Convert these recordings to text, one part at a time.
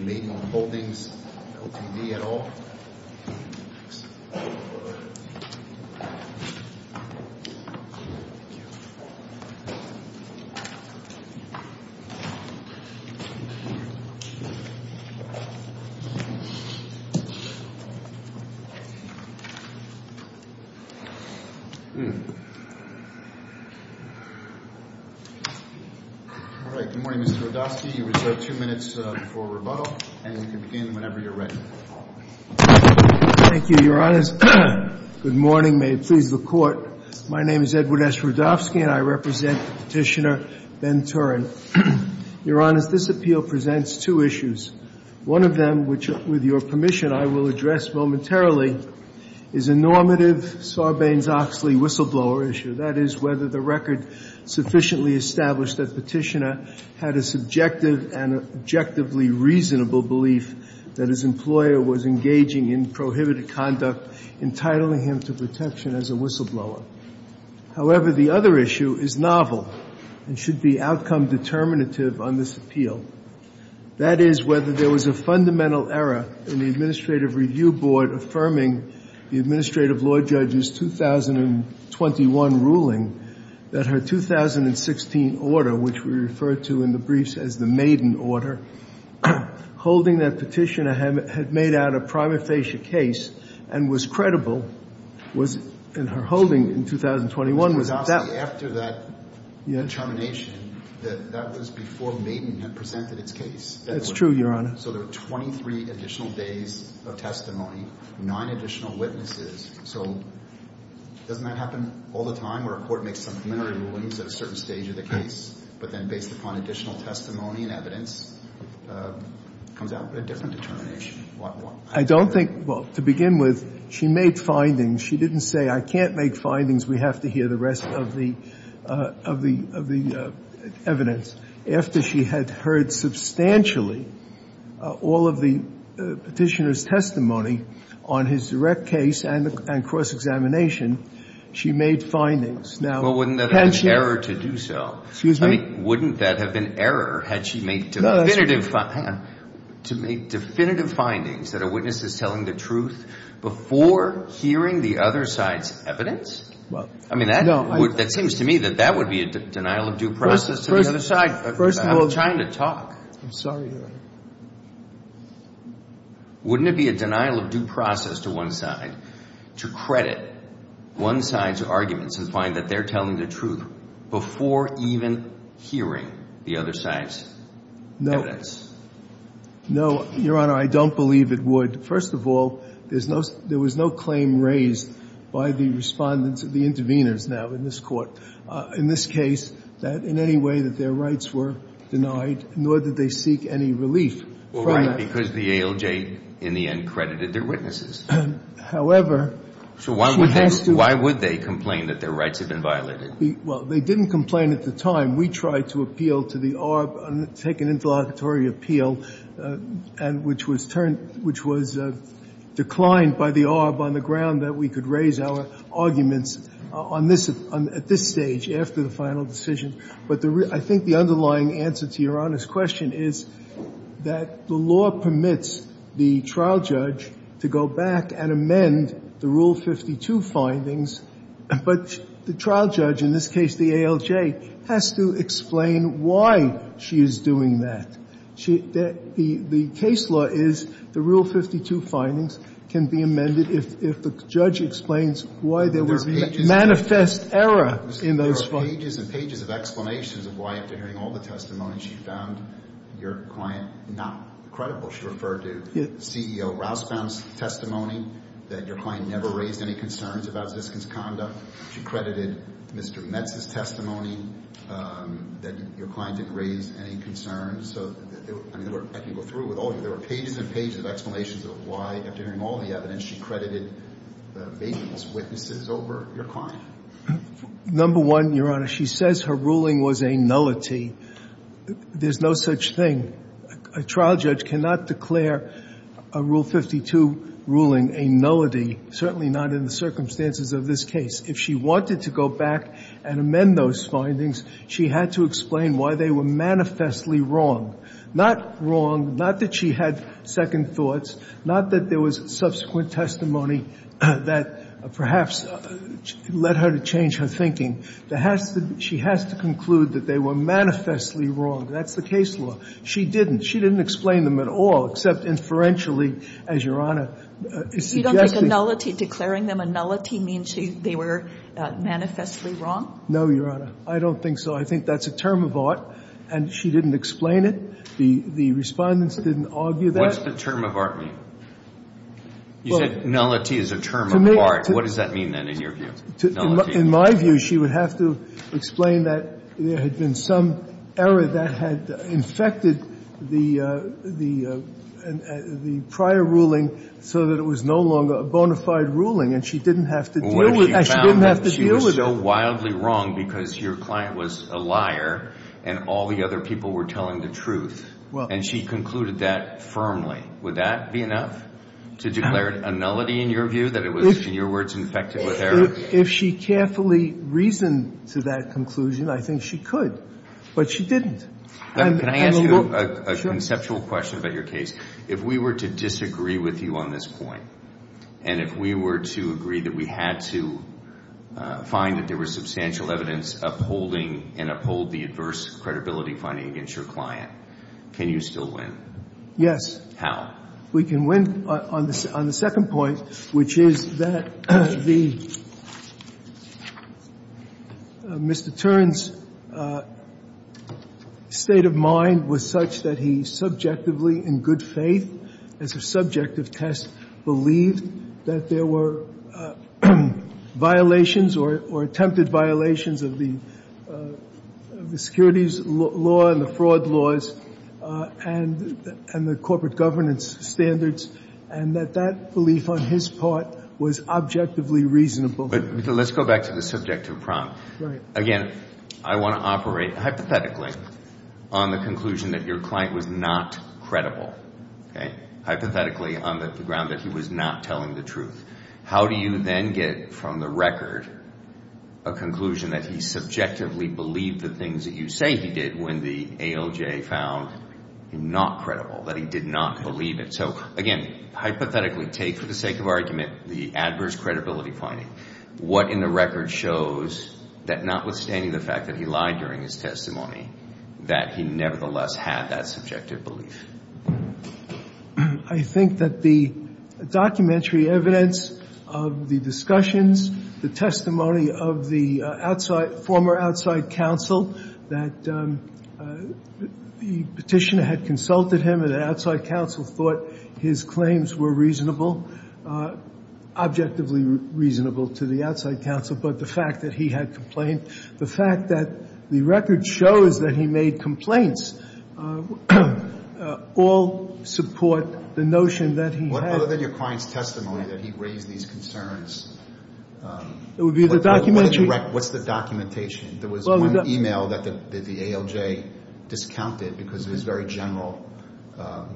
meeting on holdings, no TV at all. All right. Good morning, Mr. Rodofsky. You reserve two minutes for rebuttal, and you can begin whenever you're ready. Thank you, Your Honors. Good morning. May it please the Court. My name is Edward S. Rodofsky, and I represent Petitioner Ben Turin. Your Honors, this appeal presents two issues. One of them, which, with your permission, I will address momentarily, is a normative Sarbanes-Oxley whistleblower issue. That is, whether the record sufficiently established that Petitioner had a subjective and objectively reasonable belief that his employer was engaging in prohibited conduct, entitling him to protection as a whistleblower. However, the other issue is novel and should be outcome determinative on this appeal. That is, whether there was a fundamental error in the Administrative Review Board affirming the administrative law judge's 2021 ruling that her 2016 order, which we refer to in the briefs as the Maiden order, holding that Petitioner had made out a prima facie case and was credible, was in her holding in 2021, was that— It was only after that determination that that was before Maiden had presented its case. That's true, Your Honor. So there were 23 additional days of testimony, nine additional witnesses. So doesn't that happen all the time where a court makes some preliminary rulings at a certain stage of the case, but then based upon additional testimony and evidence comes out with a different determination? I don't think—well, to begin with, she made findings. She didn't say, I can't make findings. We have to hear the rest of the evidence. After she had heard substantially all of the Petitioner's testimony on his direct case and cross-examination, she made findings. Now— Well, wouldn't that have been error to do so? Excuse me? I mean, wouldn't that have been error had she made definitive— Hang on. To make definitive findings that a witness is telling the truth before hearing the other side's evidence? I mean, that seems to me that that would be a denial of due process to the other side. First of all— I'm trying to talk. I'm sorry, Your Honor. Wouldn't it be a denial of due process to one side to credit one side's arguments and find that they're telling the truth before even hearing the other side's evidence? No. No, Your Honor, I don't believe it would. First of all, there was no claim raised by the Respondents or the Intervenors now in this Court, in this case, that in any way that their rights were denied, nor did they seek any relief from that. Well, right, because the ALJ in the end credited their witnesses. However— So why would they— She has to— Why would they complain that their rights have been violated? Well, they didn't complain at the time. We tried to appeal to the ARB and take an interlocutory appeal, which was declined by the ARB on the ground that we could raise our arguments at this stage, after the final decision. But I think the underlying answer to Your Honor's question is that the law permits the trial judge to go back and amend the Rule 52 findings, but the trial judge, in this case the ALJ, has to explain why she is doing that. The case law is the Rule 52 findings can be amended if the judge explains why there was manifest error in those findings. There were pages and pages of explanations of why, after hearing all the testimony, she found your client not credible. She referred to CEO Rousbaum's testimony, that your client never raised any concerns about Ziskin's conduct. She credited Mr. Metz's testimony, that your client didn't raise any concerns. So, I mean, I can go through it with all of you. There were pages and pages of explanations of why, after hearing all the evidence, she credited the baseless witnesses over your client. Number one, Your Honor, she says her ruling was a nullity. There's no such thing. A trial judge cannot declare a Rule 52 ruling a nullity, certainly not in the circumstances of this case. If she wanted to go back and amend those findings, she had to explain why they were manifestly wrong. Not wrong, not that she had second thoughts, not that there was subsequent testimony that perhaps led her to change her thinking. She has to conclude that they were manifestly wrong. That's the case law. She didn't. She didn't explain them at all, except inferentially, as Your Honor is suggesting. You don't think a nullity declaring them a nullity means they were manifestly wrong? No, Your Honor. I don't think so. I think that's a term of art, and she didn't explain it. The Respondents didn't argue that. What does the term of art mean? You said nullity is a term of art. What does that mean, then, in your view? In my view, she would have to explain that there had been some error that had infected the prior ruling so that it was no longer a bona fide ruling, and she didn't have to deal with it. She didn't have to deal with it. She was so wildly wrong because your client was a liar and all the other people were telling the truth, and she concluded that firmly. Would that be enough to declare a nullity in your view, that it was, in your words, infected with error? If she carefully reasoned to that conclusion, I think she could. But she didn't. Can I ask you a conceptual question about your case? If we were to disagree with you on this point, and if we were to agree that we had to find that there was substantial evidence upholding and uphold the adverse credibility finding against your client, can you still win? Yes. How? We can win on the second point, which is that the Mr. Tern's state of mind was such that he subjectively, in good faith, as a subjective test, believed that there were violations or attempted violations of the securities law and the fraud laws and the corporate governance standards, and that that belief on his part was objectively reasonable. But let's go back to the subjective prompt. Right. Again, I want to operate hypothetically on the conclusion that your client was not credible, okay, hypothetically on the ground that he was not telling the truth. How do you then get from the record a conclusion that he subjectively believed the things that you say he did when the ALJ found him not credible, that he did not believe it? So, again, hypothetically take, for the sake of argument, the adverse credibility finding. What in the record shows that notwithstanding the fact that he lied during his testimony that he nevertheless had that subjective belief? I think that the documentary evidence of the discussions, the testimony of the outside former outside counsel, that the petitioner had consulted him, and the outside counsel thought his claims were reasonable, objectively reasonable to the outside counsel. But the fact that he had complained, the fact that the record shows that he made complaints all support the notion that he had. Other than your client's testimony that he raised these concerns. It would be the documentary? What's the documentation? There was one e-mail that the ALJ discounted because it was very general.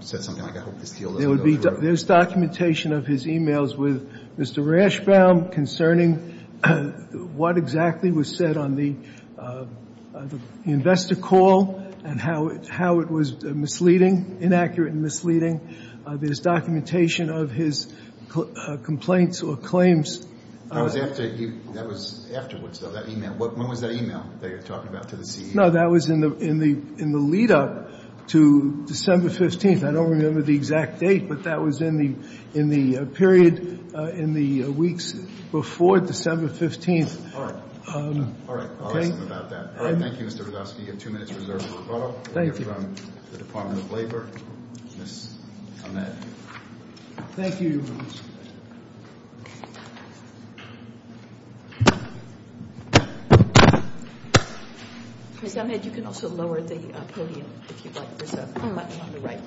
Said something like, I hope this deal doesn't go through. There's documentation of his e-mails with Mr. Rashbaum concerning what exactly was said on the investor call and how it was misleading, inaccurate and misleading. There's documentation of his complaints or claims. That was afterwards, though, that e-mail. When was that e-mail that you were talking about to the CEO? No, that was in the lead up to December 15th. I don't remember the exact date, but that was in the period in the weeks before December 15th. All right. All right. I'll ask him about that. All right. Thank you, Mr. Radofsky. You have two minutes reserved for rebuttal. Thank you. From the Department of Labor, Ms. Ahmed. Thank you. Ms. Ahmed, you can also lower the podium if you'd like. There's a button on the right.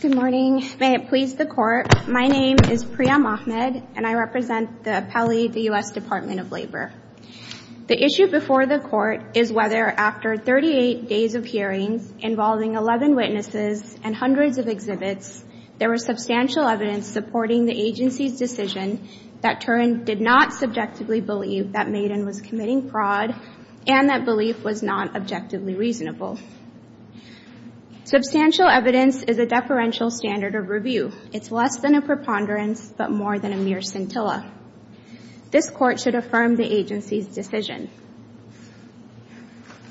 Good morning. May it please the Court. My name is Priya Mohamed, and I represent the appellee, the U.S. Department of Labor. The issue before the Court is whether, after 38 days of hearings involving 11 witnesses and hundreds of exhibits, there was substantial evidence supporting the agency's decision that Turin did not subjectively believe that Maiden was committing fraud and that belief was not objectively reasonable. Substantial evidence is a deferential standard of review. It's less than a preponderance but more than a mere scintilla. This Court should affirm the agency's decision.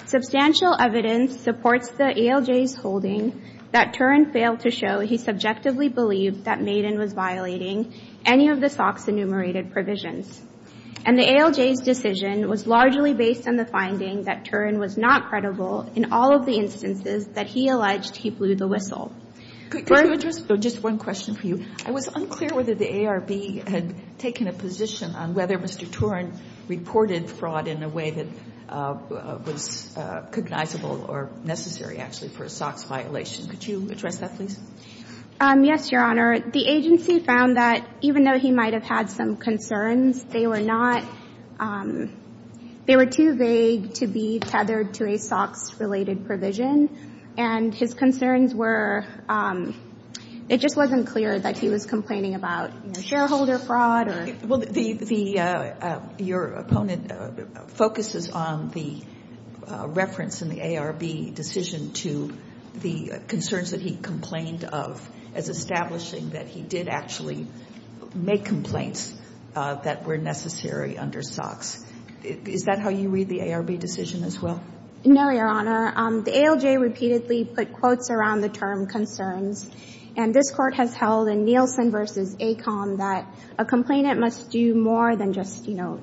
Substantial evidence supports the ALJ's holding that Turin failed to show he subjectively believed that Maiden was violating any of the SOX enumerated provisions. And the ALJ's decision was largely based on the finding that Turin was not credible in all of the instances that he alleged he blew the whistle. Could you address just one question for you? I was unclear whether the ARB had taken a position on whether Mr. Turin reported fraud in a way that was cognizable or necessary, actually, for a SOX violation. Could you address that, please? Yes, Your Honor. The agency found that even though he might have had some concerns, they were not they were too vague to be tethered to a SOX-related provision. And his concerns were it just wasn't clear that he was complaining about, you know, shareholder fraud or — Well, the — your opponent focuses on the reference in the ARB decision to the concerns that he complained of as establishing that he did actually make complaints that were necessary under SOX. Is that how you read the ARB decision as well? No, Your Honor. The ALJ repeatedly put quotes around the term concerns. And this Court has held in Nielsen v. Acom that a complainant must do more than just, you know,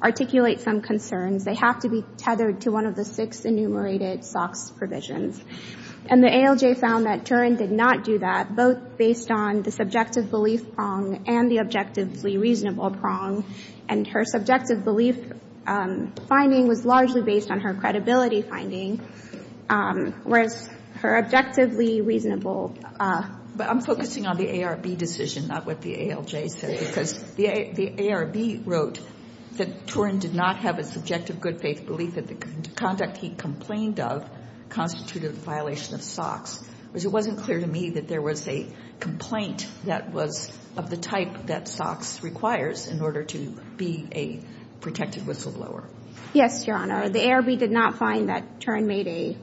articulate some concerns. They have to be tethered to one of the six enumerated SOX provisions. And the ALJ found that Turin did not do that, both based on the subjective belief prong and the objectively reasonable prong. And her subjective belief finding was largely based on her credibility finding, whereas her objectively reasonable — But I'm focusing on the ARB decision, not what the ALJ said, because the ARB wrote that Turin did not have a subjective good-faith belief that the conduct he complained of constituted a violation of SOX. It wasn't clear to me that there was a complaint that was of the type that SOX requires in order to be a protected whistleblower. Yes, Your Honor. The ARB did not find that Turin made a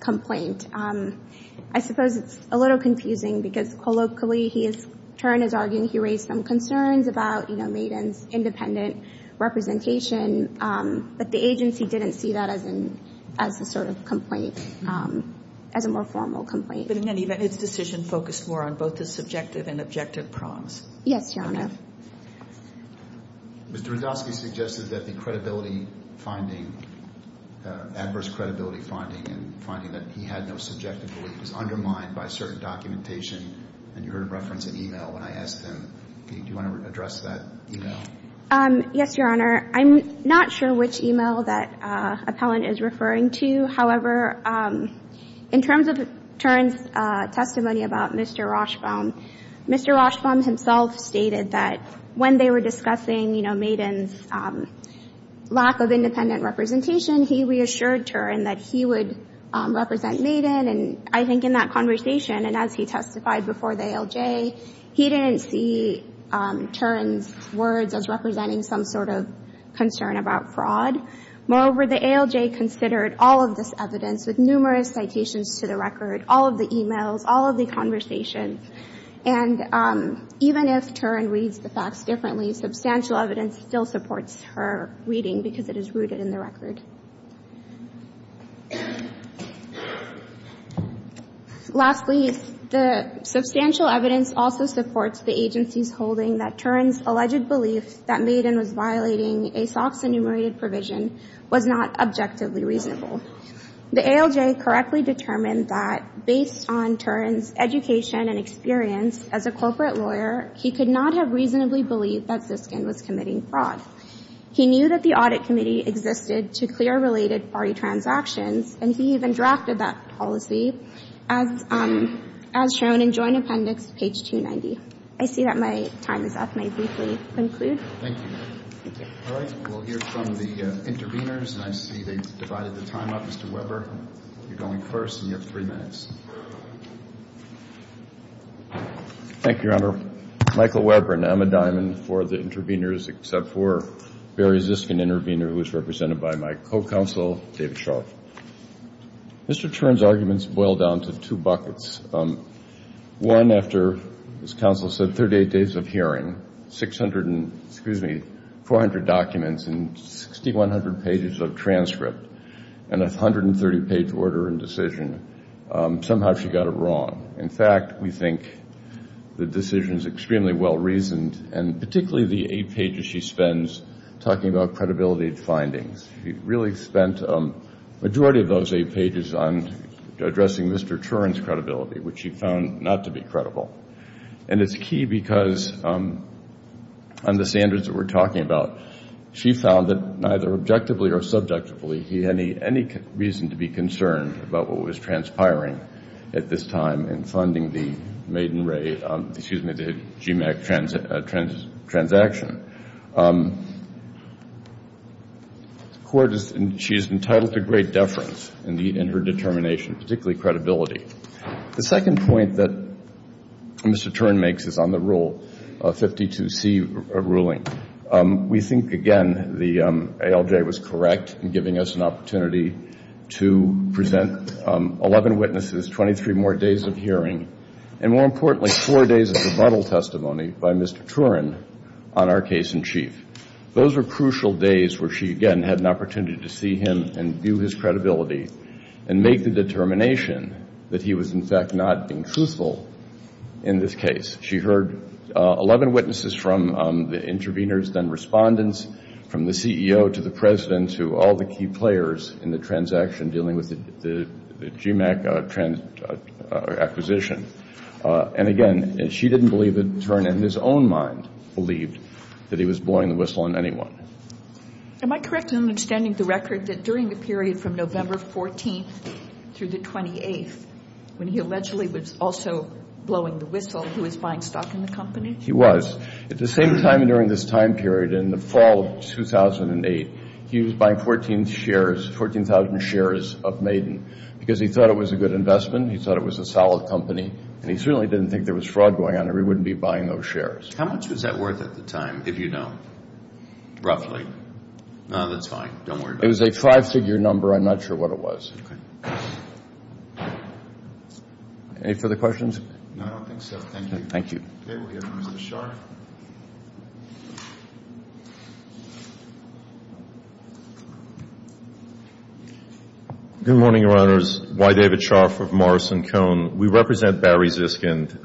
complaint. I suppose it's a little confusing because, colloquially, he is — Turin is arguing he raised some concerns about, you know, Maiden's independent representation. But the agency didn't see that as a sort of complaint, as a more formal complaint. But in any event, its decision focused more on both the subjective and objective prongs. Yes, Your Honor. Mr. Radofsky suggested that the credibility finding, adverse credibility finding and finding that he had no subjective belief was undermined by certain documentation. And you heard a reference in e-mail when I asked him, do you want to address that e-mail? Yes, Your Honor. I'm not sure which e-mail that appellant is referring to. However, in terms of Turin's testimony about Mr. Rochbaum, Mr. Rochbaum himself stated that when they were discussing, you know, Maiden's lack of independent representation, he reassured Turin that he would represent Maiden. And I think in that conversation and as he testified before the ALJ, he didn't see Turin's words as representing some sort of concern about fraud. Moreover, the ALJ considered all of this evidence with numerous citations to the record, all of the e-mails, all of the conversations. And even if Turin reads the facts differently, substantial evidence still supports her reading because it is rooted in the record. Lastly, the substantial evidence also supports the agency's holding that Turin's alleged belief that Maiden was violating a SOX enumerated provision was not objectively reasonable. The ALJ correctly determined that based on Turin's education and experience as a corporate lawyer, he could not have reasonably believed that Ziskin was committing fraud. He knew that the Audit Committee existed to clear related party transactions, and he even drafted that policy as shown in Joint Appendix, page 290. I see that my time is up. May I briefly conclude? Thank you. All right. We'll hear from the intervenors, and I see they've divided the time up. Mr. Weber, you're going first, and you have three minutes. Thank you, Your Honor. Michael Weber, and I'm a diamond for the intervenors except for Barry Ziskin, an intervenor who was represented by my co-counsel, David Sharp. Mr. Turin's arguments boil down to two buckets. One, after, as counsel said, 38 days of hearing, 600 and, excuse me, 400 documents and 6,100 pages of transcript and a 130-page order and decision, somehow she got it wrong. In fact, we think the decision is extremely well-reasoned, and particularly the eight pages she spends talking about credibility findings. She really spent the majority of those eight pages on addressing Mr. Turin's credibility, which she found not to be credible. And it's key because on the standards that we're talking about, she found that neither objectively or subjectively, he had any reason to be concerned about what was transpiring at this time in funding the Maiden Ray, excuse me, the GMAC transaction. The court is, and she is entitled to great deference in her determination, particularly credibility. The second point that Mr. Turin makes is on the rule, 52C ruling. We think, again, the ALJ was correct in giving us an opportunity to present 11 witnesses, 23 more days of hearing, and more importantly, four days of rebuttal testimony by Mr. Turin on our case-in-chief. Those were crucial days where she, again, had an opportunity to see him and view his credibility and make the determination that he was, in fact, not being truthful in this case. She heard 11 witnesses from the interveners, then respondents from the CEO to the President and to all the key players in the transaction dealing with the GMAC acquisition. And, again, she didn't believe that Turin, in his own mind, believed that he was blowing the whistle on anyone. Am I correct in understanding the record that during the period from November 14th through the 28th, when he allegedly was also blowing the whistle, he was buying stock in the company? He was. At the same time during this time period, in the fall of 2008, he was buying 14,000 shares of Maiden because he thought it was a good investment, he thought it was a solid company, and he certainly didn't think there was fraud going on or he wouldn't be buying those shares. How much was that worth at the time, if you know, roughly? No, that's fine. Don't worry about it. It was a five-figure number. I'm not sure what it was. Okay. Any further questions? No, I don't think so. Thank you. Thank you. Okay. We have Mr. Scharf. Good morning, Your Honors. Y. David Scharf of Morrison Cone. We represent Barry Ziskind,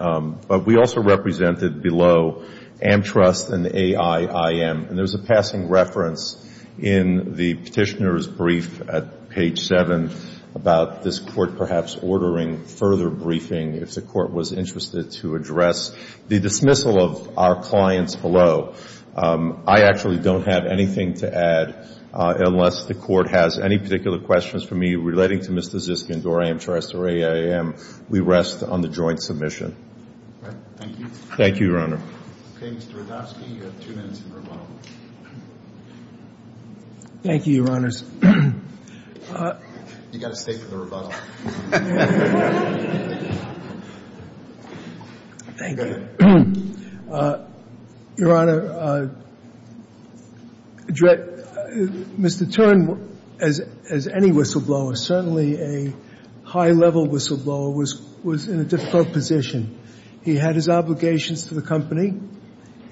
but we also represented below Amtrust and AIIM. And there's a passing reference in the Petitioner's brief at page 7 about this Court perhaps ordering further briefing if the Court was interested to address the dismissal of our clients below. I actually don't have anything to add unless the Court has any particular questions for me relating to Mr. Ziskind or Amtrust or AIIM. We rest on the joint submission. Okay. Thank you. Thank you, Your Honor. Okay. Mr. Radofsky, you have two minutes in rebuttal. Thank you, Your Honors. You've got to stay for the rebuttal. Thank you. Your Honor, Mr. Turin, as any whistleblower, certainly a high-level whistleblower, was in a difficult position. He had his obligations to the company.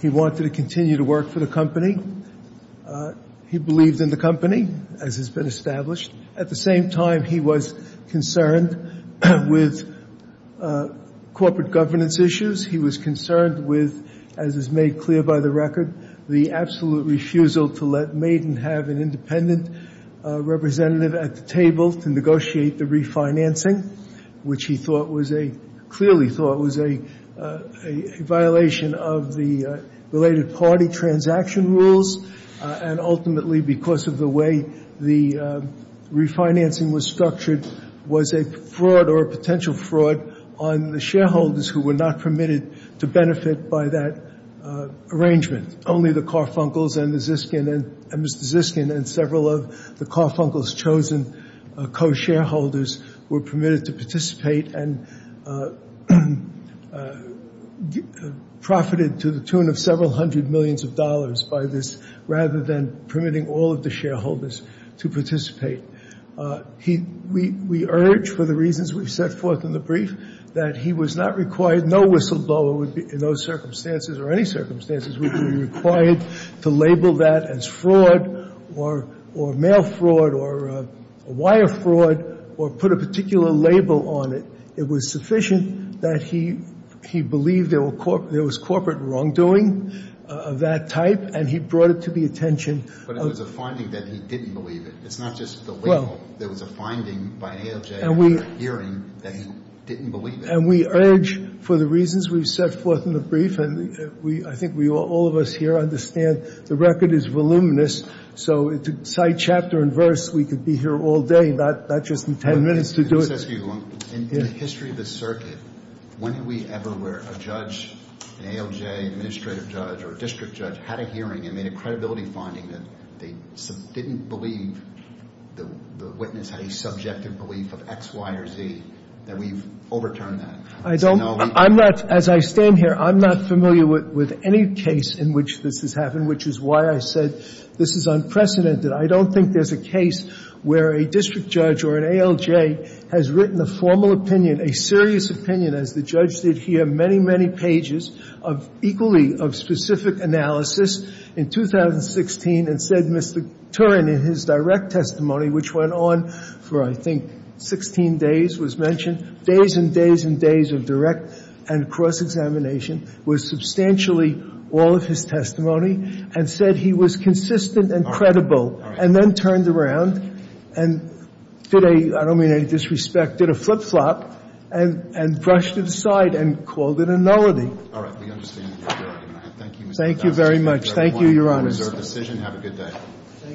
He wanted to continue to work for the company. He believed in the company, as has been established. At the same time, he was concerned with corporate governance issues. He was concerned with, as is made clear by the record, the absolute refusal to let Maiden have an independent representative at the table to negotiate the refinancing, which he clearly thought was a violation of the related party transaction rules. And ultimately, because of the way the refinancing was structured, was a fraud or a potential fraud on the shareholders who were not permitted to benefit by that arrangement. Only the Carfuncles and Mr. Ziskin and several of the Carfuncles' chosen co-shareholders were permitted to participate and profited to the tune of several hundred millions of dollars by this, rather than permitting all of the shareholders to participate. We urge, for the reasons we set forth in the brief, that he was not required, no whistleblower would be, in those circumstances or any circumstances, would be required to label that as fraud or mail fraud or wire fraud or put a particular label on it. It was sufficient that he believed there was corporate wrongdoing of that type, and he brought it to the attention. But it was a finding that he didn't believe it. It's not just the label. There was a finding by ALJ hearing that he didn't believe it. And we urge, for the reasons we've set forth in the brief, and I think all of us here understand the record is voluminous, so to cite chapter and verse, we could be here all day, not just in 10 minutes to do it. In the history of the circuit, when have we ever where a judge, an ALJ administrative judge or a district judge, had a hearing and made a credibility finding that they didn't believe the witness had a subjective belief of X, Y, or Z, that we've overturned that? I don't. I'm not, as I stand here, I'm not familiar with any case in which this has happened, which is why I said this is unprecedented. I don't think there's a case where a district judge or an ALJ has written a formal opinion, a serious opinion, as the judge did here, many, many pages of equally of specific analysis in 2016 and said Mr. Turin, in his direct testimony, which went on for, I think, 16 days was mentioned, days and days and days of direct and cross-examination, was substantially all of his testimony, and said he was consistent and credible, and then turned around and did a, I don't mean any disrespect, did a flip-flop, and brushed it aside and called it a nullity. All right. We understand that. Thank you. Thank you very much. Thank you, Your Honors. Have a good day.